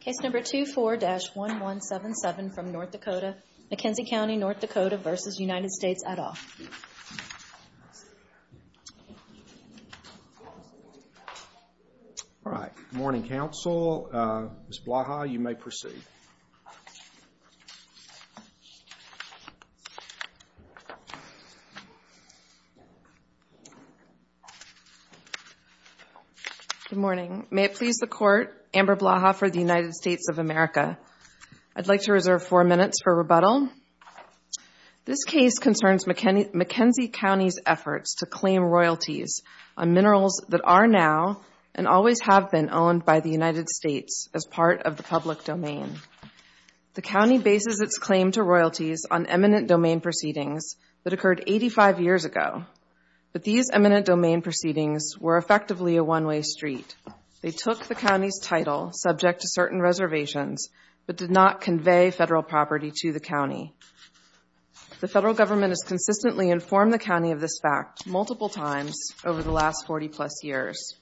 Case number 24-1177 from North Dakota, McKenzie County, ND v. United States, et al. All right. Good morning, counsel. Ms. Blaha, you may proceed. Good morning. May it please the Court, Amber Blaha for the United States of America. I'd like to reserve four minutes for rebuttal. This case concerns McKenzie County's efforts to claim royalties on minerals that are now and always have been owned by the United States as part of the public domain. The county bases its claim to royalties on eminent domain proceedings that occurred 85 years ago. But these eminent domain proceedings were effectively a one-way street. They took the county's title, subject to certain reservations, but did not convey federal property to the county. The federal government has consistently informed the county of this fact multiple times over the last 40-plus years.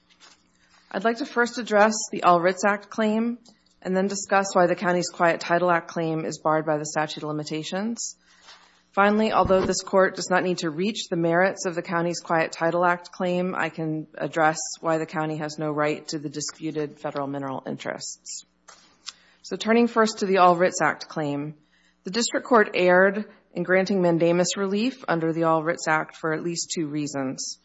I'd like to first address the All Writs Act claim, and then discuss why the county's Quiet Title Act claim is barred by the statute of limitations. Finally, although this Court does not need to reach the merits of the county's Quiet Title Act claim, I can address why the county has no right to the disputed federal mineral interests. So turning first to the All Writs Act claim, the District Court erred in granting mandamus relief under the All Writs Act for at least two reasons.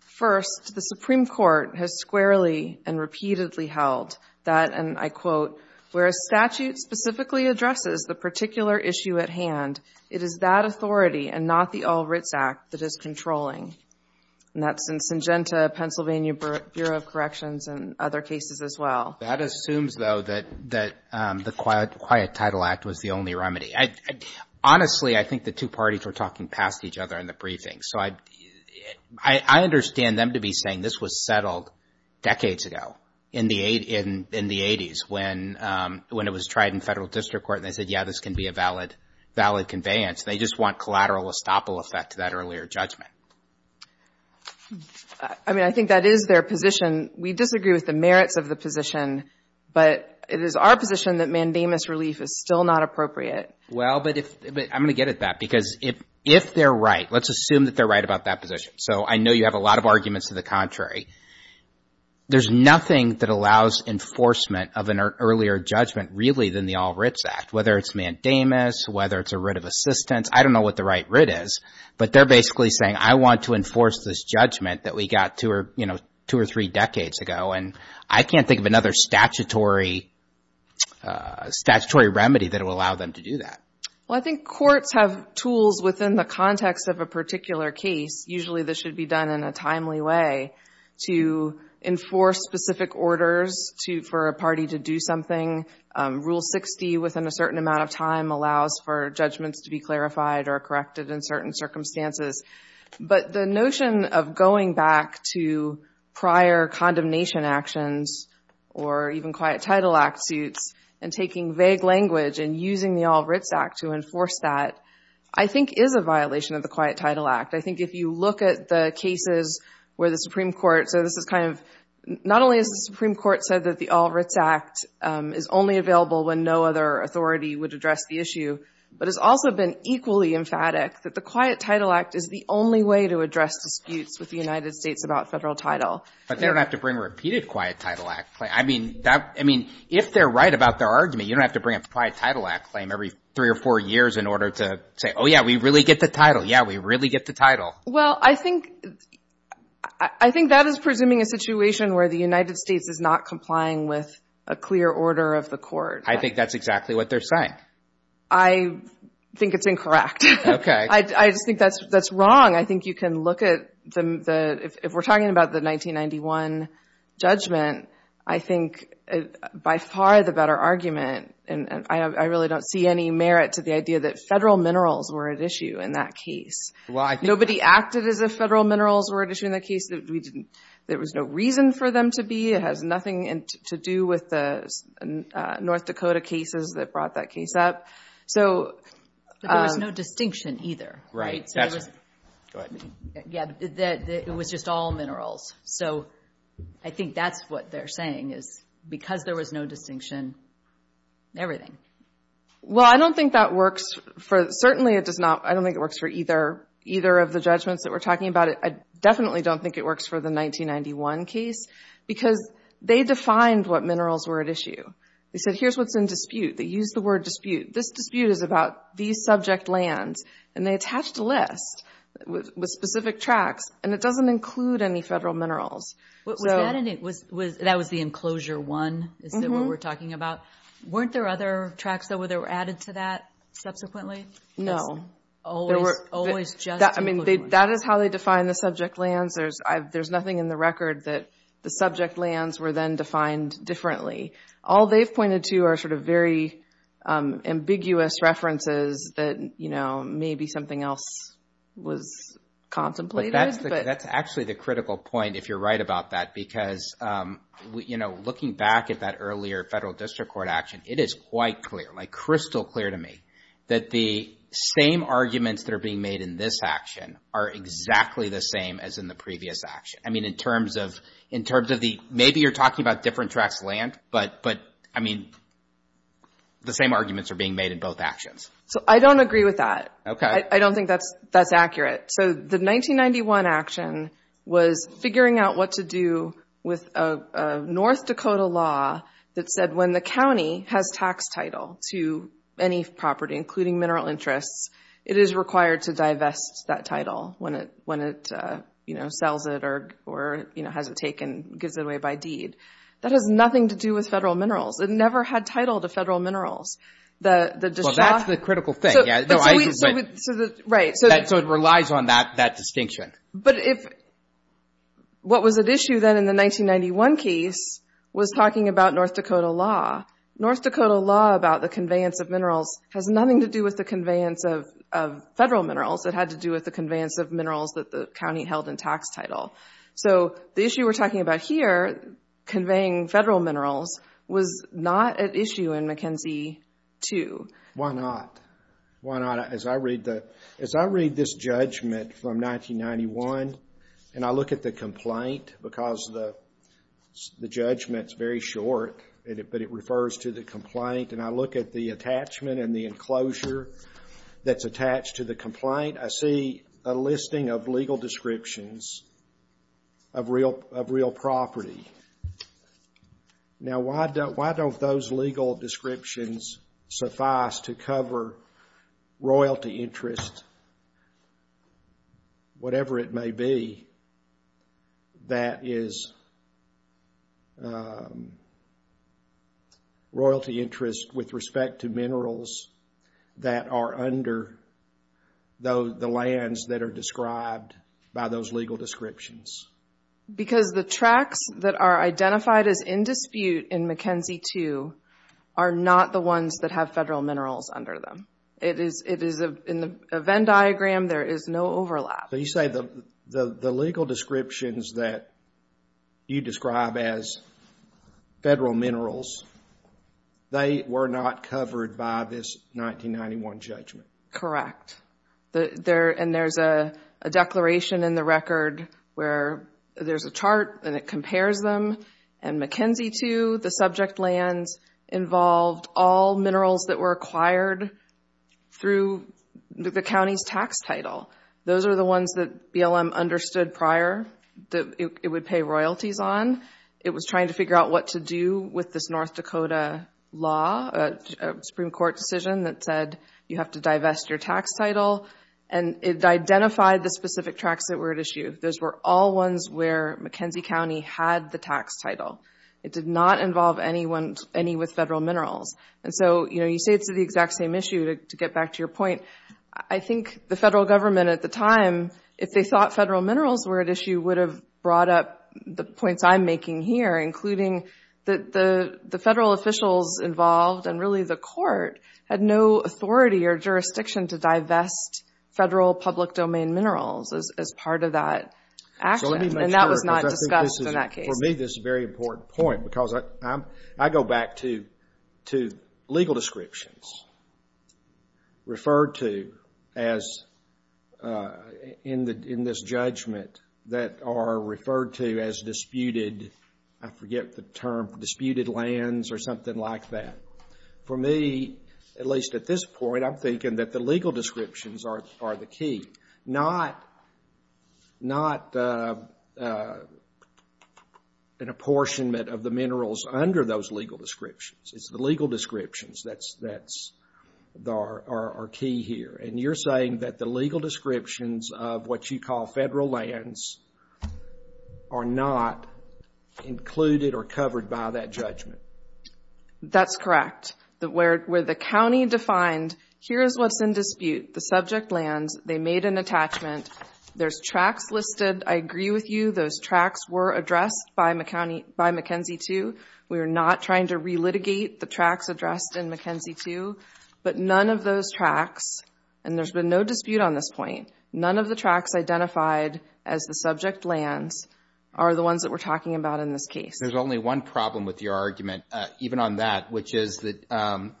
First, the Supreme Court has squarely and repeatedly held that, and I quote, where a statute specifically addresses the particular issue at hand, it is that authority and not the All Writs Act that is controlling. And that's in Syngenta, Pennsylvania Bureau of Corrections, and other cases as well. That assumes, though, that the Quiet Title Act was the only remedy. Honestly, I think the two parties were talking past each other in the briefing. So I understand them to be saying this was settled decades ago, in the 80s, when it was tried in federal district court, and they said, yeah, this can be a valid conveyance. They just want collateral estoppel effect to that earlier judgment. I mean, I think that is their position. We disagree with the merits of the position, but it is our position that mandamus relief is still not appropriate. Well, but I'm going to get at that, because if they're right, let's assume that they're right about that position. So I know you have a lot of arguments to the contrary. There's nothing that allows enforcement of an earlier judgment, really, than the All Writs Act, whether it's mandamus, whether it's a writ of assistance. I don't know what the right writ is, but they're basically saying, I want to enforce this judgment that we got two or three decades ago, and I can't think of another statutory remedy that will allow them to do that. Well, I think courts have tools within the context of a particular case. Usually this should be done in a timely way to enforce specific orders for a party to do something. Rule 60, within a certain amount of time, allows for judgments to be clarified or corrected in certain circumstances. But the notion of going back to prior condemnation actions, or even Quiet Title Act suits, and taking vague language and using the All Writs Act to enforce that, I think is a violation of the Quiet Title Act. I think if you look at the cases where the Supreme Court, so this is kind of, not only has the Supreme Court said that the All Writs Act is only available when no other authority would address the issue, but has also been equally emphatic that the Quiet Title Act is the only way to address disputes with the United States about federal title. But they don't have to bring repeated Quiet Title Act claims. I mean, if they're right about their argument, you don't have to bring a Quiet Title Act claim every three or four years in order to say, oh, yeah, we really get the title. Yeah, we really get the title. Well, I think that is presuming a situation where the United States is not complying with a clear order of the court. I think that's exactly what they're saying. I think it's incorrect. I just think that's wrong. I think you can look at the, if we're talking about the 1991 judgment, I think by far the better argument, and I really don't see any merit to the idea that federal minerals were at issue in that case. Nobody acted as if federal minerals were at issue in that case. There was no reason for them to be. It has nothing to do with the North Dakota cases that brought that case up. There was no distinction either. It was just all minerals. So I think that's what they're saying, is because there was no distinction, everything. Well, I don't think that works. Certainly it does not. I don't think it works for either of the judgments that we're talking about. I definitely don't think it works for the 1991 case, because they defined what minerals were at issue. They said, here's what's in dispute. They used the word dispute. This dispute is about these subject lands, and they attached a list with specific tracks, and it doesn't include any federal minerals. That was the enclosure one, is that what we're talking about? Weren't there other tracks that were added to that subsequently? No. That is how they defined the subject lands. There's nothing in the record that the subject lands were then defined differently. All they've pointed to are sort of very ambiguous references that maybe something else was contemplated. That's actually the critical point, if you're right about that, because looking back at that earlier federal district court action, it is quite clear, like crystal clear to me, that the same arguments that are being made in this action are exactly the same as in the previous action. Maybe you're talking about different tracks of land, but the same arguments are being made in both actions. I don't agree with that. I don't think that's accurate. The 1991 action was figuring out what to do with a North Dakota law that said when the county has tax title to any property, including mineral interests, it is required to divest that title when it sells it or gives it away by deed. That has nothing to do with federal minerals. It never had title to federal minerals. That's the critical thing. It relies on that distinction. What was at issue then in the 1991 case was talking about North Dakota law. North Dakota law about the conveyance of minerals has nothing to do with the conveyance of federal minerals. It had to do with the conveyance of minerals that the county held in tax title. The issue we're talking about here, conveying federal minerals, was not at issue in McKenzie 2. Why not? As I read this judgment from 1991 and I look at the complaint, because the judgment is very short, but it refers to the complaint, and I look at the attachment and the enclosure that's attached to the complaint, I see a listing of legal descriptions of real property. Why don't those legal descriptions suffice to cover royalty interest, whatever it may be, that is royalty interest with respect to minerals that are under the lands that are described by those legal descriptions? Because the tracts that are identified as in dispute in McKenzie 2 are not the ones that have federal minerals under them. In the Venn diagram, there is no overlap. You say the legal descriptions that you describe as federal minerals, they were not covered by this 1991 judgment. Correct. And there's a declaration in the record where there's a chart and it compares them. In McKenzie 2, the subject lands involved all minerals that were acquired through the county's tax title. Those are the ones that BLM understood prior that it would pay royalties on. It was trying to figure out what to do with this North Dakota law, a Supreme Court decision that said you have to divest your tax title, and it identified the specific tracts that were at issue. Those were all ones where McKenzie County had the tax title. It did not involve any with federal minerals. You say it's the exact same issue, to get back to your point, I think the federal government at the time, if they thought federal minerals were at issue, would have brought up the points I'm making here, including the federal officials involved and really the court had no authority or jurisdiction to divest federal public domain minerals as part of that action. And that was not discussed in that case. For me, this is a very important point, because I go back to legal descriptions referred to as, in this judgment, that are referred to as disputed, I forget the term, disputed lands or something like that. For me, at least at this point, I'm thinking that the legal descriptions are the key. Not an apportionment of the minerals under those legal descriptions. It's the legal descriptions that are key here. And you're saying that the legal descriptions of what you call federal lands are not included or covered by that judgment. That's correct. Where the county defined, here's what's in dispute, the subject lands, they made an attachment, there's tracts listed, I agree with you, those tracts were addressed by McKenzie 2. We are not trying to relitigate the tracts addressed in McKenzie 2. But none of those tracts, and there's been no dispute on this point, none of the tracts identified as the subject lands are the ones that we're talking about in this case. There's only one problem with your argument, even on that, which is that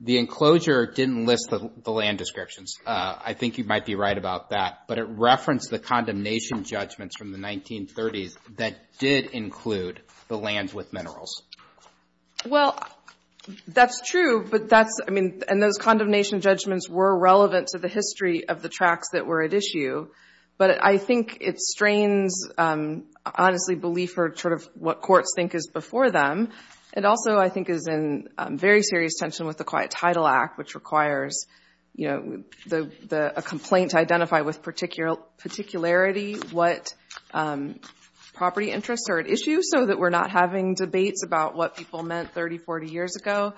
the enclosure didn't list the land descriptions. I think you might be right about that. But it referenced the condemnation judgments from the 1930s that did include the lands with minerals. Well, that's true. And those condemnation judgments were relevant to the history of the tracts that were at issue. But I think it strains, honestly, belief for what courts think is before them. It also, I think, is in very serious tension with the Quiet Title Act, which requires a complaint to identify with particularity what property interests are at issue so that we're not having debates about what people meant 30, 40 years ago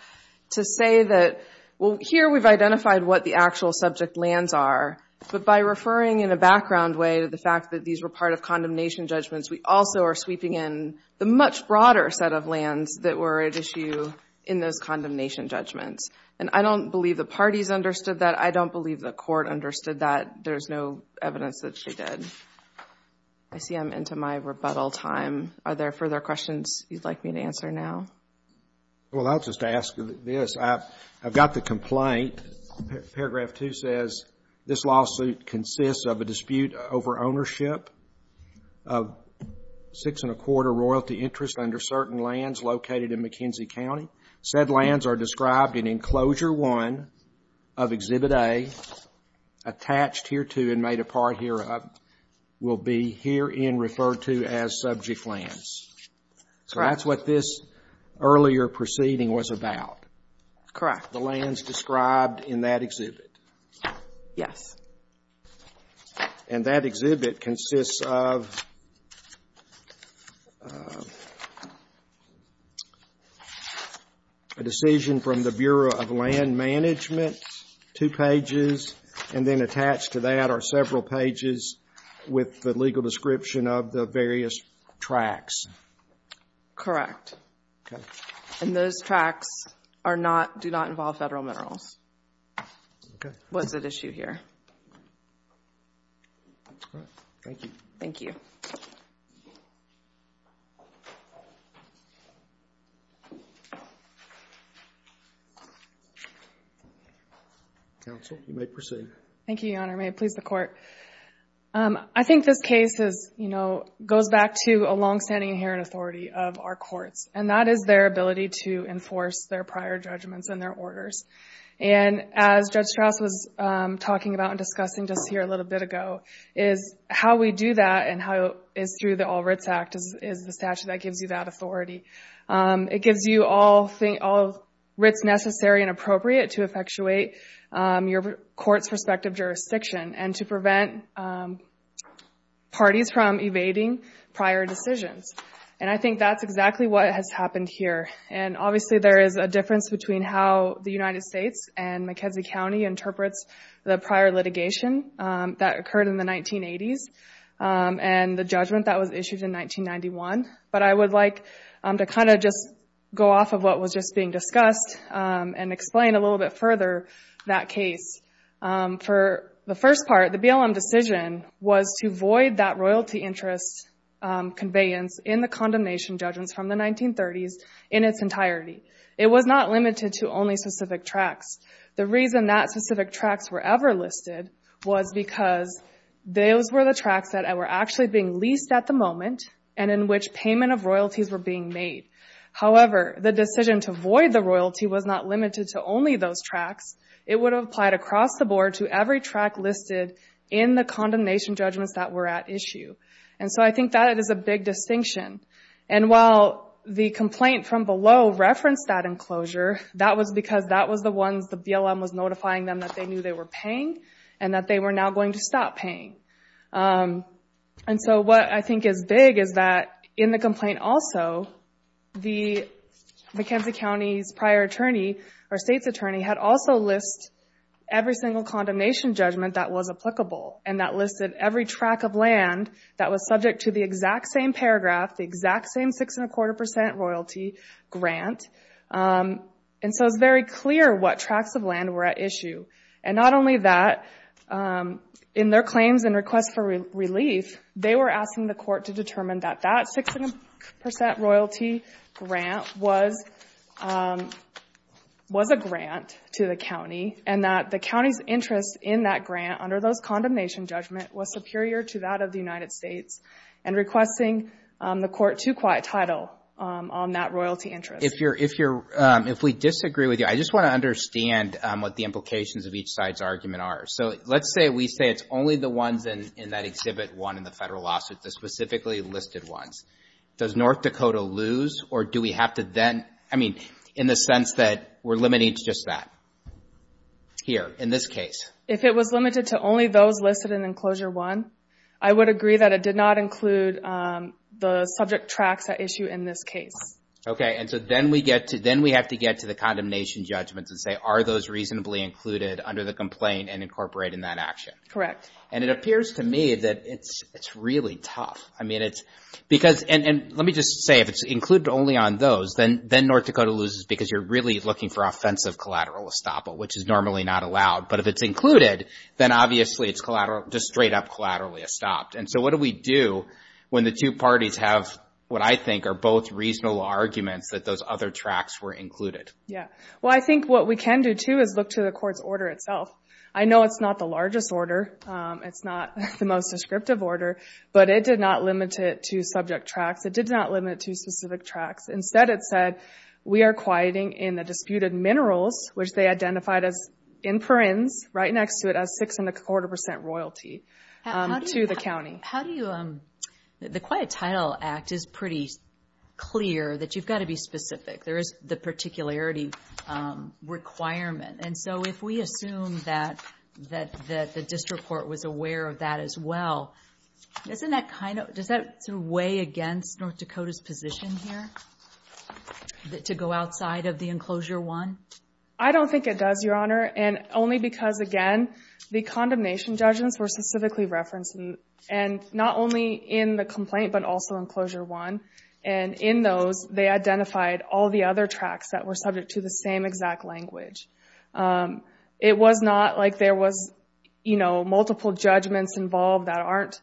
to say that, well, here we've identified what the actual subject lands are. But by referring in a background way to the fact that these were part of condemnation judgments, we also are sweeping in the much broader set of lands that were at issue in those condemnation judgments. And I don't believe the parties understood that. I don't believe the court understood that. There's no evidence that she did. I see I'm into my rebuttal time. Are there further questions you'd like me to answer now? Well, I'll just ask this. I've got the complaint. Paragraph 2 says this lawsuit consists of a dispute over ownership of six and a quarter royalty interests under certain lands located in McKenzie County. Said lands are described in Enclosure 1 of Exhibit A, attached here to and made apart hereup, will be herein referred to as subject lands. So that's what this earlier proceeding was about. The lands described in that exhibit. Yes. And that exhibit consists of a decision from the Bureau of Land Management, two pages, and then attached to that are several pages with the legal description of the various tracts. Correct. And those tracts are not, do not involve Federal minerals. What's at issue here? Thank you. Counsel, you may proceed. Thank you, Your Honor. May it please the Court? I think this case goes back to a long-standing inherent authority of our courts, and that is their ability to enforce their prior judgments and their orders. And as Judge Strauss was talking about and discussing just here a little bit ago, is how we do that and how it's through the All Writs Act is the statute that gives you that authority. It gives you all writs necessary and appropriate to effectuate your court's perspective jurisdiction and to prevent parties from evading prior decisions. And I think that's exactly what has happened here. And McKenzie County interprets the prior litigation that occurred in the 1980s and the judgment that was issued in 1991. But I would like to kind of just go off of what was just being discussed and explain a little bit further that case. For the first part, the BLM decision was to void that royalty interest conveyance in the condemnation judgments from the 1930s in its entirety. It was not limited to only specific tracts. The reason that specific tracts were ever listed was because those were the tracts that were actually being leased at the moment and in which payment of royalties were being made. However, the decision to void the royalty was not limited to only those tracts. It would have applied across the board to every tract listed in the condemnation judgments that were at issue. And so I think that is a big distinction. And while the complaint from below referenced that enclosure, that was because that was the ones the BLM was notifying them that they knew they were paying and that they were now going to stop paying. And so what I think is big is that in the complaint also, the McKenzie County's prior attorney, or state's attorney, had also listed every single condemnation judgment that was applicable. And that listed every tract of land that was subject to the exact same paragraph, the exact same six and a quarter percent royalty grant. And so it's very clear what tracts of land were at issue. And not only that, in their claims and requests for relief, they were asking the court to determine that that six and a percent royalty grant was a grant to the county and that the county's interest in that grant under those condemnation judgment was superior to that of the United States and requesting the court to quiet title on that royalty interest. If we disagree with you, I just want to understand what the implications of each side's argument are. So let's say we say it's only the ones in that Exhibit 1 in the federal lawsuit, the specifically listed ones. Does North Dakota lose, or do we have to then, I mean, in the sense that we're limited to just that here in this case? If it was limited to only those listed in Enclosure 1, I would agree that it did not include the subject tracts at issue in this case. Okay. And so then we have to get to the condemnation judgments and say, are those reasonably included under the complaint and incorporate in that action? Correct. And it appears to me that it's really tough. I mean, it's because, and let me just say, if it's included only on those, then North Dakota loses because you're really looking for offensive collateral estoppel, which is normally not allowed. But if it's included, then obviously it's collateral, just straight up collaterally estopped. And so what do we do when the two parties have what I think are both reasonable arguments that those other tracts were included? Yeah. Well, I think what we can do, too, is look to the court's order itself. I know it's not the largest order. It's not the most descriptive order. But it did not limit it to subject tracts. It did not limit it to specific tracts. Instead, it said, we are quieting in the disputed minerals, which they identified as in parens, right next to it, as six and a quarter percent royalty to the county. How do you, the Quiet Title Act is pretty clear that you've got to be specific. There is the particularity requirement. And so if we assume that the district court was aware of that as well, doesn't that kind of, does that sort of weigh against North Dakota's position here to go outside of the enclosure one? I don't think it does, Your Honor, and only because, again, the condemnation judgments were specifically referenced, and not only in the complaint, but also in enclosure one. And in those, they identified all the other tracts that were subject to the same exact language. It was not like there was multiple judgments involved that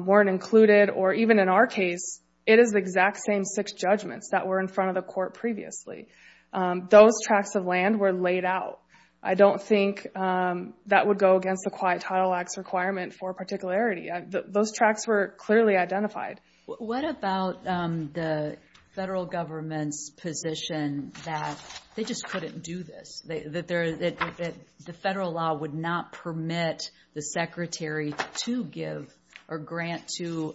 weren't included, or even in our case, it is the exact same six judgments that were in front of the court previously. Those tracts of land were laid out. I don't think that would go against the Quiet Title Act's requirement for particularity. Those tracts were clearly identified. What about the federal government's position that they just couldn't do this? That the federal law would not permit the secretary to give or grant to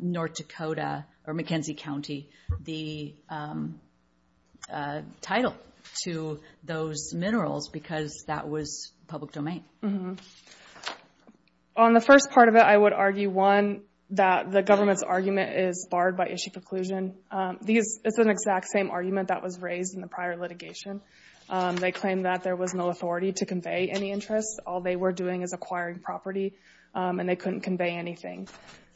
North Dakota or McKenzie County the title to those minerals because that was public domain? On the first part of it, I would argue, one, that the government's argument is barred by issue preclusion. It's the exact same argument that was raised in the prior litigation. They claimed that there was no authority to convey any interest. All they were doing is acquiring property, and they couldn't convey anything.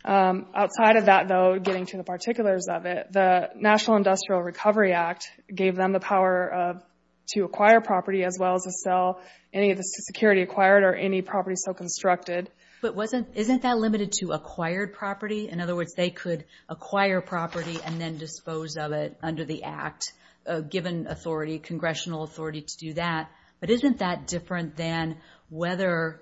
Outside of that, though, getting to the particulars of it, the National Industrial Recovery Act gave them the power to acquire property as well as to sell any of the security acquired or any property so constructed. But isn't that limited to acquired property? In other words, they could acquire property and then dispose of it under the act, given congressional authority to do that. But isn't that different than whether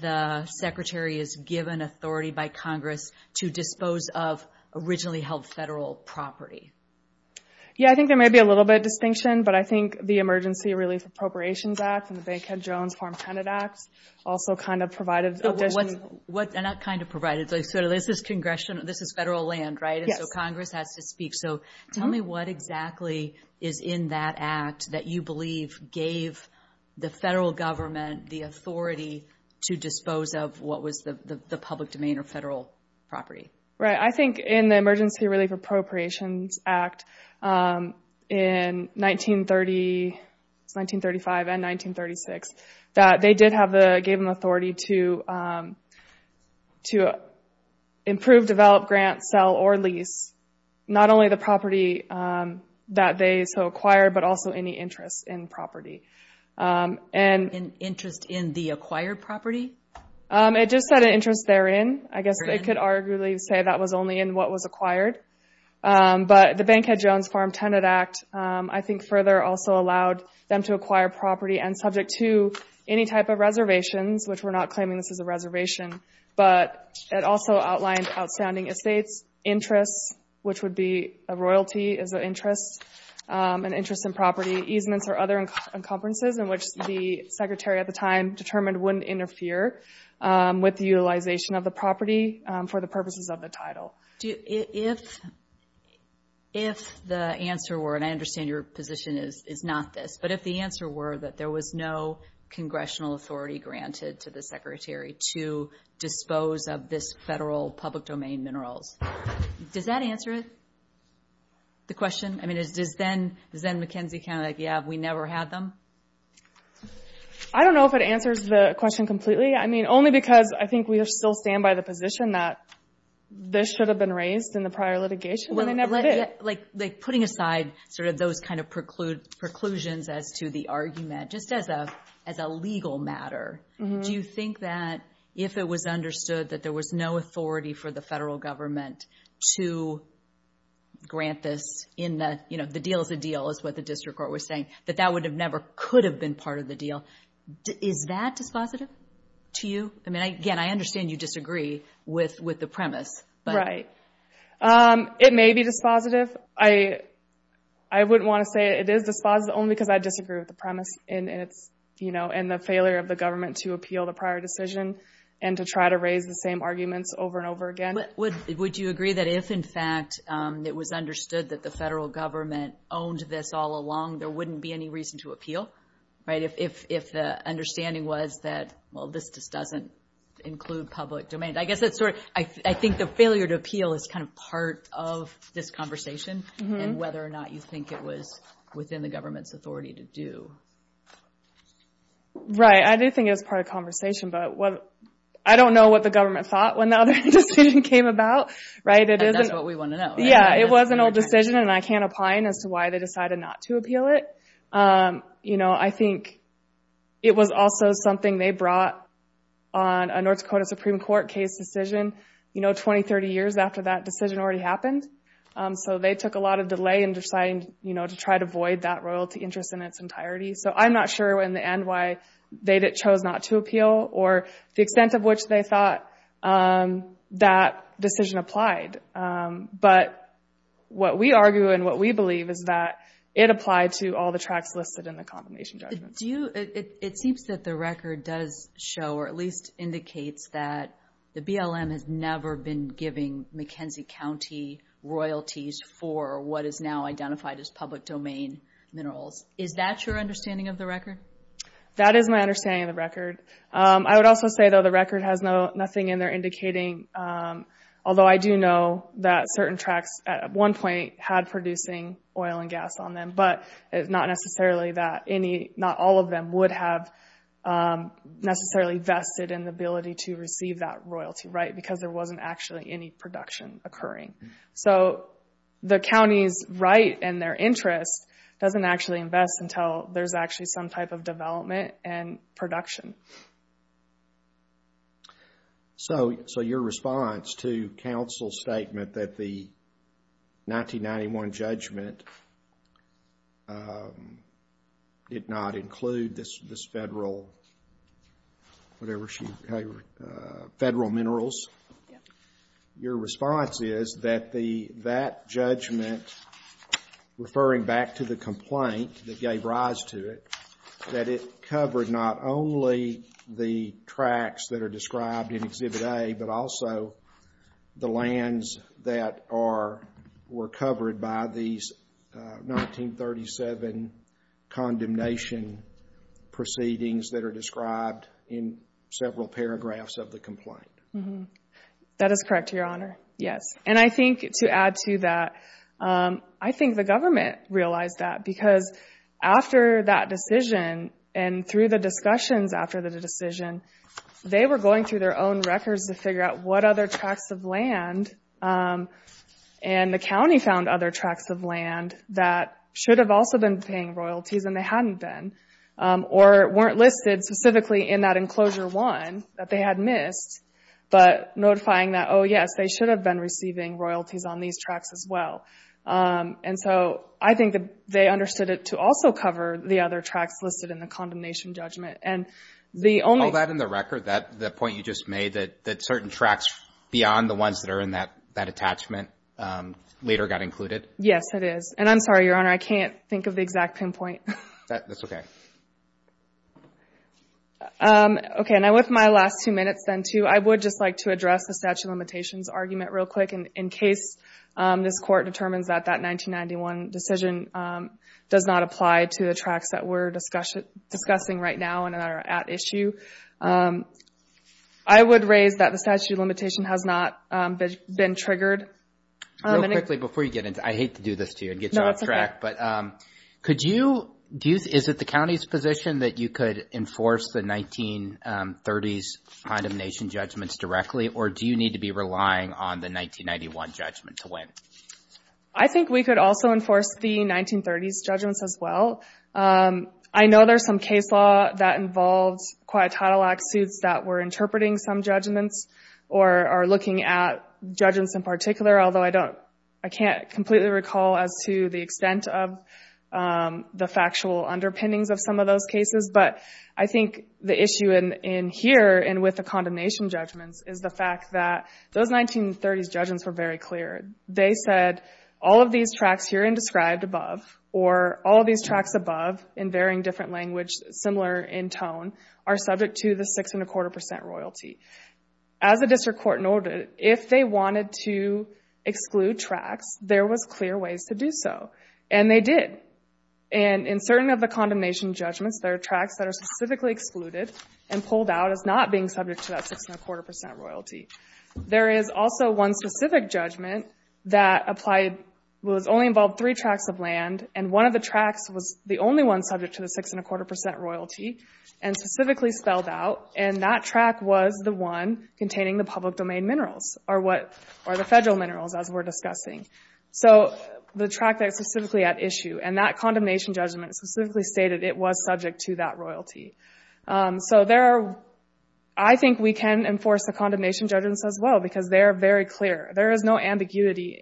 the secretary is given authority by Congress to dispose of originally held federal property? Yeah, I think there may be a little bit of distinction, but I think the Emergency Relief Appropriations Act and the Bankhead-Jones Farm Credit Act also kind of provided additional... And not kind of provided. This is federal land, right? So Congress has to speak. Tell me what exactly is in that act that you believe gave the federal government the authority to dispose of what was the public domain or federal property? Right. I think in the Emergency Relief Appropriations Act in 1935 and 1936, that they did have... gave them authority to improve, develop, grant, sell, or lease not only the property that they so acquired, but also any interest in property. Interest in the acquired property? It just said an interest therein. I guess they could arguably say that was only in what was acquired. But the Bankhead-Jones Farm Tenant Act I think further also allowed them to acquire property and subject to any type of reservations, which we're not claiming this is a reservation, but it also outlined outstanding estates, interests, which would be a royalty as an interest, an interest in property, easements or other encumbrances in which the secretary at the time determined wouldn't interfere with the utilization of the property for the purposes of the title. If the answer were, and I understand your position is not this, but if the answer were that there was no congressional authority granted to the secretary to dispose of this federal public domain minerals, does that answer the question? I mean, is then McKenzie kind of like, yeah, we never had them? I don't know if it answers the question completely. I mean, only because I think we still stand by the position that this should have been raised in the prior litigation, but they never did. Like putting aside sort of those kind of preclusions as to the argument, just as a legal matter, do you think that if it was understood that there was no authority for the federal government to grant this in the, you know, the deal is a deal is what the district court was saying, that that would have never could have been part of the deal. Is that dispositive to you? I mean, again, I understand you disagree with the premise. Right. It may be dispositive. I wouldn't want to say it is dispositive only because I disagree with the premise and it's, you know, and the failure of the government to appeal the prior decision and to try to raise the same arguments over and over again. Would you agree that if, in fact, it was understood that the federal government owned this all along, there wouldn't be any reason to appeal, right? If the understanding was that, well, this just doesn't include public domain. I guess that's sort of, I think the failure to appeal is kind of part of this conversation, and whether or not you think it was within the government's authority to do. Right. I do think it was part of conversation, but I don't know what the government thought when the other decision came about. Right. It isn't what we want to know. Yeah, it was an old decision, and I can't opine as to why they decided not to appeal it. You know, I think it was also something they brought on a North Dakota Supreme Court case decision, you know, 20, 30 years after that decision already happened. So they took a lot of delay in deciding, you know, to try to avoid that royalty interest in its entirety. So I'm not sure in the end why they chose not to appeal or the extent of which they thought that decision applied. But what we argue and what we believe is that it applied to all the tracts listed in the condemnation judgment. Do you, it seems that the record does show or at least indicates that the BLM has never been giving McKenzie County royalties for what is now identified as public domain minerals. Is that your understanding of the record? That is my understanding of the record. I would also say, though, the record has nothing in there indicating, although I do know that certain tracts at one point had producing oil and gas on them, but it's not necessarily that any, not all of them would have necessarily vested in the ability to receive that royalty. Right? Because there wasn't actually any production occurring. So the county's right and their interest doesn't actually invest until there's actually some type of development and production. So your response to counsel's statement that the 1991 judgment did not include this federal, whatever she, federal minerals. Your response is that the, that judgment, referring back to the complaint that gave rise to it, that it covered not only the tracts that are described in Exhibit A, but also the lands that are, were covered by these 1937 condemnation proceedings that are described in several paragraphs of the complaint. That is correct, Your Honor. Yes. And I think to add to that, I think the government realized that. Because after that decision and through the discussions after the decision, they were going through their own records to figure out what other tracts of land, and the county found other tracts of land that should have also been paying royalties and they hadn't been, or weren't listed specifically in that enclosure one that they had missed, but notifying that, oh, yes, they should have been receiving royalties on these tracts as well. And so I think that they understood it to also cover the other tracts listed in the condemnation judgment. And the only. All that in the record, that, the point you just made, that certain tracts beyond the ones that are in that, that attachment later got included. Yes, it is. And I'm sorry, Your Honor, I can't think of the exact pinpoint. That's okay. Okay. And with my last two minutes then, too, I would just like to address the statute of limitations argument real quick. And in case this court determines that that 1991 decision does not apply to the tracts that we're discussing right now and that are at issue, I would raise that the statute of limitation has not been triggered. Real quickly, before you get into, I hate to do this to you and get you off track, but could you, is it the county's position that you could enforce the 1930s condemnation judgments directly? Or do you need to be relying on the 1991 judgment to win? I think we could also enforce the 1930s judgments as well. I know there's some case law that involves quite a lot of lawsuits that were interpreting some judgments or are looking at judgments in particular, although I don't, I can't completely recall as to the extent of the factual underpinnings of some of those cases. But I think the issue in here and with the condemnation judgments is the fact that those 1930s judgments were very clear. They said all of these tracts here and described above or all of these tracts above in varying different language, similar in tone, are subject to the six and a quarter percent royalty. As the district court noted, if they wanted to exclude tracts, there was clear ways to do so. And they did. And in certain of the condemnation judgments, there are tracts that are specifically excluded and pulled out as not being subject to that six and a quarter percent royalty. There is also one specific judgment that applied, was only involved three tracts of land, and one of the tracts was the only one subject to the six and a quarter percent royalty and specifically spelled out, and that tract was the one containing the public domain minerals or the federal minerals as we're discussing. So the tract that is specifically at issue and that condemnation judgment specifically stated it was subject to that royalty. So there are, I think we can enforce the condemnation judgments as well because they are very clear. There is no ambiguity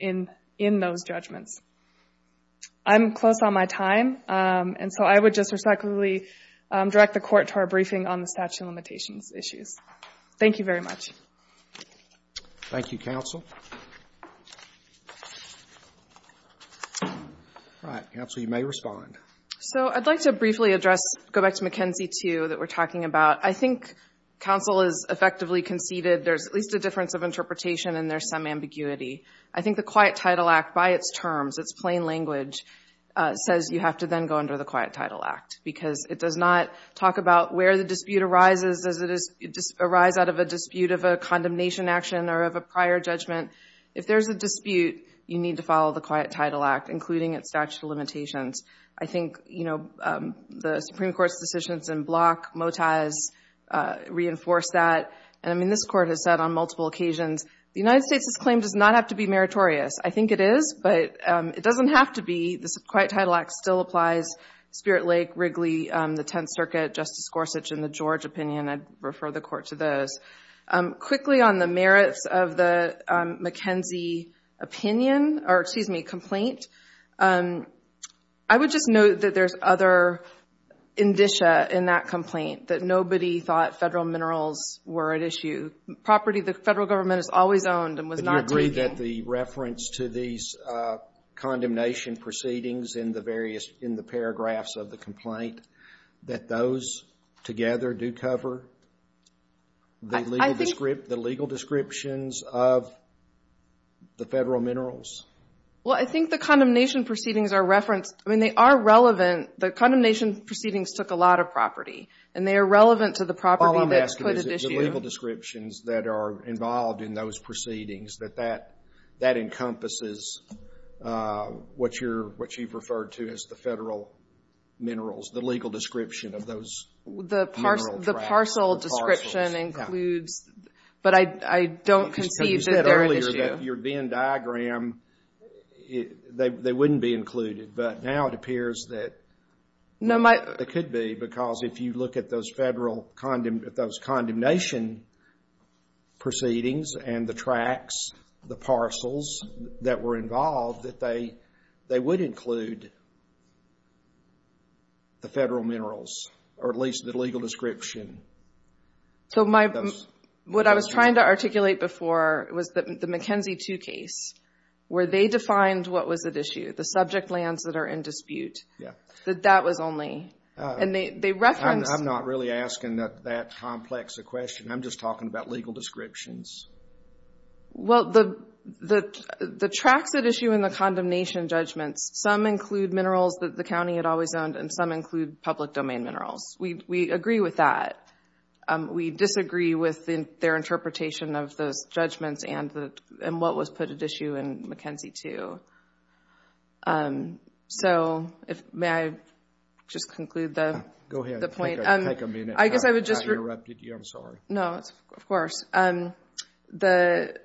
in those judgments. I'm close on my time. And so I would just respectfully direct the court to our briefing on the statute of limitations issues. Thank you very much. Thank you, counsel. All right. Counsel, you may respond. So I'd like to briefly address, go back to McKenzie 2 that we're talking about. I think counsel has effectively conceded there's at least a difference of interpretation and there's some ambiguity. I think the Quiet Title Act by its terms, its plain language, says you have to then go under the Quiet Title Act because it does not talk about where the dispute arises. Does it arise out of a dispute of a condemnation action or of a prior judgment? If there's a dispute, you need to follow the Quiet Title Act, including its statute of limitations. I think, you know, the Supreme Court's decisions in Block, Motaz, reinforced that. And, I mean, this court has said on multiple occasions, the United States' claim does not have to be meritorious. I think it is, but it doesn't have to be. The Quiet Title Act still applies, Spirit Lake, Wrigley, the Tenth Circuit, Justice Gorsuch, and the George opinion. I'd refer the court to those. Quickly on the merits of the McKenzie opinion or, excuse me, complaint, I would just note that there's other indicia in that complaint that nobody thought federal minerals were at issue. Property the federal government has always owned and was not taking. Do you agree that the reference to these condemnation proceedings in the various, in the paragraphs of the complaint, that those together do cover the legal descriptions of the federal minerals? Well, I think the condemnation proceedings are referenced. I mean, they are relevant. The condemnation proceedings took a lot of property, and they are relevant to the property that's put at issue. All I'm asking is the legal descriptions that are involved in those proceedings, that that encompasses what you've referred to as the federal minerals, the legal description of those mineral tracts. The parcel description includes, but I don't concede that they're at issue. But your Venn diagram, they wouldn't be included. But now it appears that they could be, because if you look at those federal, at those condemnation proceedings and the tracts, the parcels that were involved, that they would include the federal minerals, or at least the legal description. So my, what I was trying to articulate before was the McKenzie 2 case, where they defined what was at issue, the subject lands that are in dispute. Yeah. That that was only, and they referenced. I'm not really asking that complex a question. I'm just talking about legal descriptions. Well, the tracts at issue in the condemnation judgments, some include minerals that the county had always owned, and some include public domain minerals. We agree with that. We disagree with their interpretation of those judgments and what was put at issue in McKenzie 2. So may I just conclude the point? Go ahead. Take a minute. I guess I would just. I interrupted you. I'm sorry. No, of course. Appendix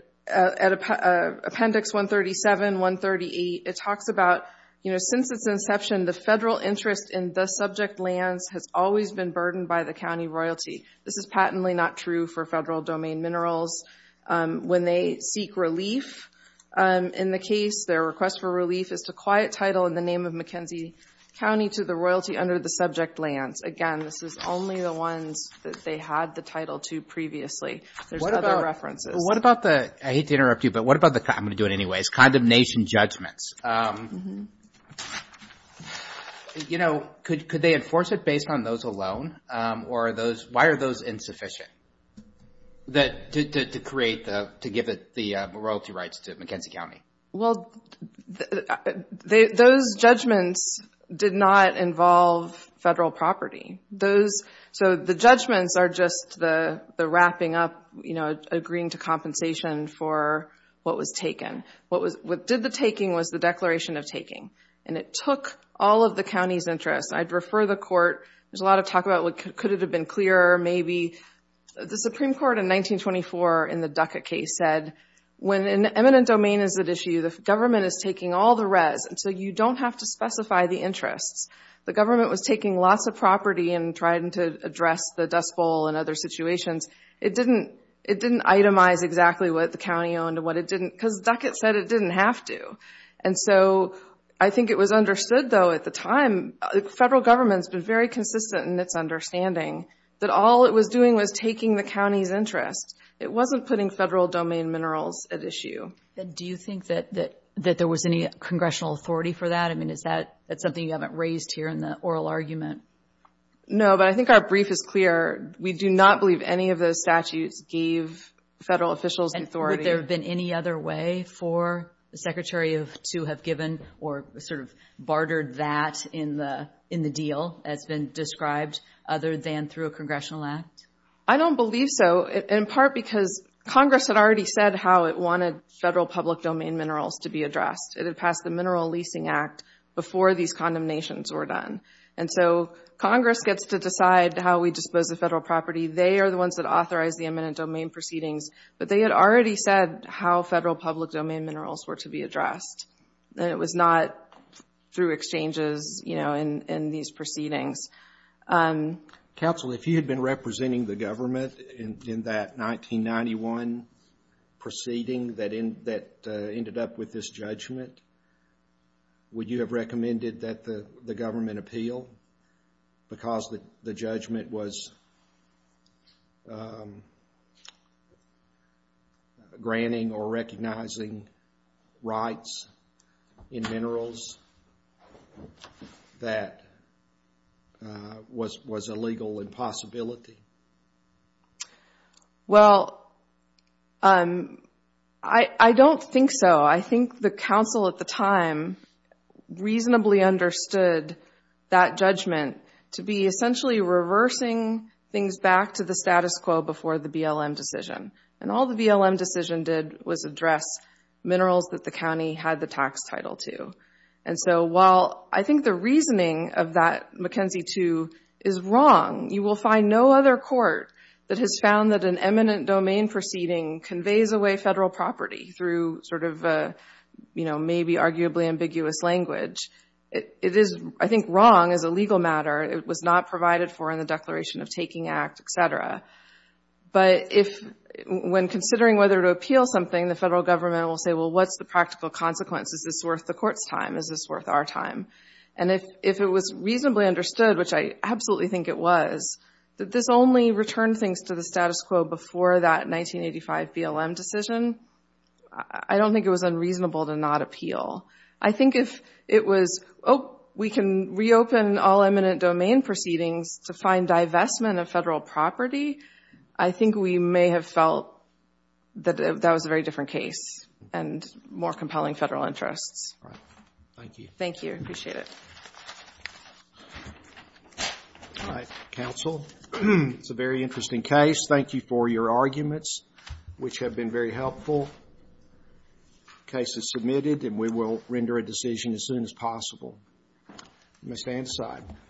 137, 138, it talks about, you know, since its inception, the federal interest in the subject lands has always been burdened by the county royalty. This is patently not true for federal domain minerals. When they seek relief in the case, their request for relief is to quiet title in the name of McKenzie County to the royalty under the subject lands. Again, this is only the ones that they had the title to previously. There's other references. What about the, I hate to interrupt you, but what about the, I'm going to do it anyway, is condemnation judgments? You know, could they enforce it based on those alone? Or are those, why are those insufficient to create, to give the royalty rights to McKenzie County? Well, those judgments did not involve federal property. So the judgments are just the wrapping up, you know, agreeing to compensation for what was taken. What did the taking was the declaration of taking. And it took all of the county's interest. I'd refer the court. There's a lot of talk about could it have been clearer, maybe. The Supreme Court in 1924 in the Duckett case said, when an eminent domain is at issue, the government is taking all the res, and so you don't have to specify the interests. The government was taking lots of property and trying to address the Dust Bowl and other situations. It didn't itemize exactly what the county owned and what it didn't, because Duckett said it didn't have to. And so I think it was understood, though, at the time, the federal government's been very consistent in its understanding that all it was doing was taking the county's interest. It wasn't putting federal domain minerals at issue. And do you think that there was any congressional authority for that? I mean, is that something you haven't raised here in the oral argument? No, but I think our brief is clear. We do not believe any of those statutes gave federal officials the authority. And would there have been any other way for the Secretary to have given or sort of bartered that in the deal as been described, other than through a congressional act? I don't believe so, in part because Congress had already said how it wanted federal public domain minerals to be addressed. It had passed the Mineral Leasing Act before these condemnations were done. And so Congress gets to decide how we dispose of federal property. They are the ones that authorize the eminent domain proceedings, but they had already said how federal public domain minerals were to be addressed. And it was not through exchanges, you know, in these proceedings. Counsel, if you had been representing the government in that 1991 proceeding that ended up with this judgment, would you have recommended that the government appeal because the judgment was granting or recognizing rights in minerals that was a legal impossibility? Well, I don't think so. I think the counsel at the time reasonably understood that judgment to be essentially reversing things back to the status quo before the BLM decision. And all the BLM decision did was address minerals that the county had the tax title to. And so while I think the reasoning of that McKenzie 2 is wrong, you will find no other court that has found that an eminent domain proceeding conveys away federal property through sort of maybe arguably ambiguous language. It is, I think, wrong as a legal matter. It was not provided for in the Declaration of Taking Act, et cetera. But when considering whether to appeal something, the federal government will say, well, what's the practical consequence? Is this worth the court's time? Is this worth our time? And if it was reasonably understood, which I absolutely think it was, that this only returned things to the status quo before that 1985 BLM decision, I don't think it was unreasonable to not appeal. I think if it was, oh, we can reopen all eminent domain proceedings to find divestment of federal property, I think we may have felt that that was a very different case and more compelling federal interests. All right. Thank you. Thank you. I appreciate it. All right. Counsel. It's a very interesting case. Thank you for your arguments, which have been very helpful. The case is submitted, and we will render a decision as soon as possible. Ms. Andeside.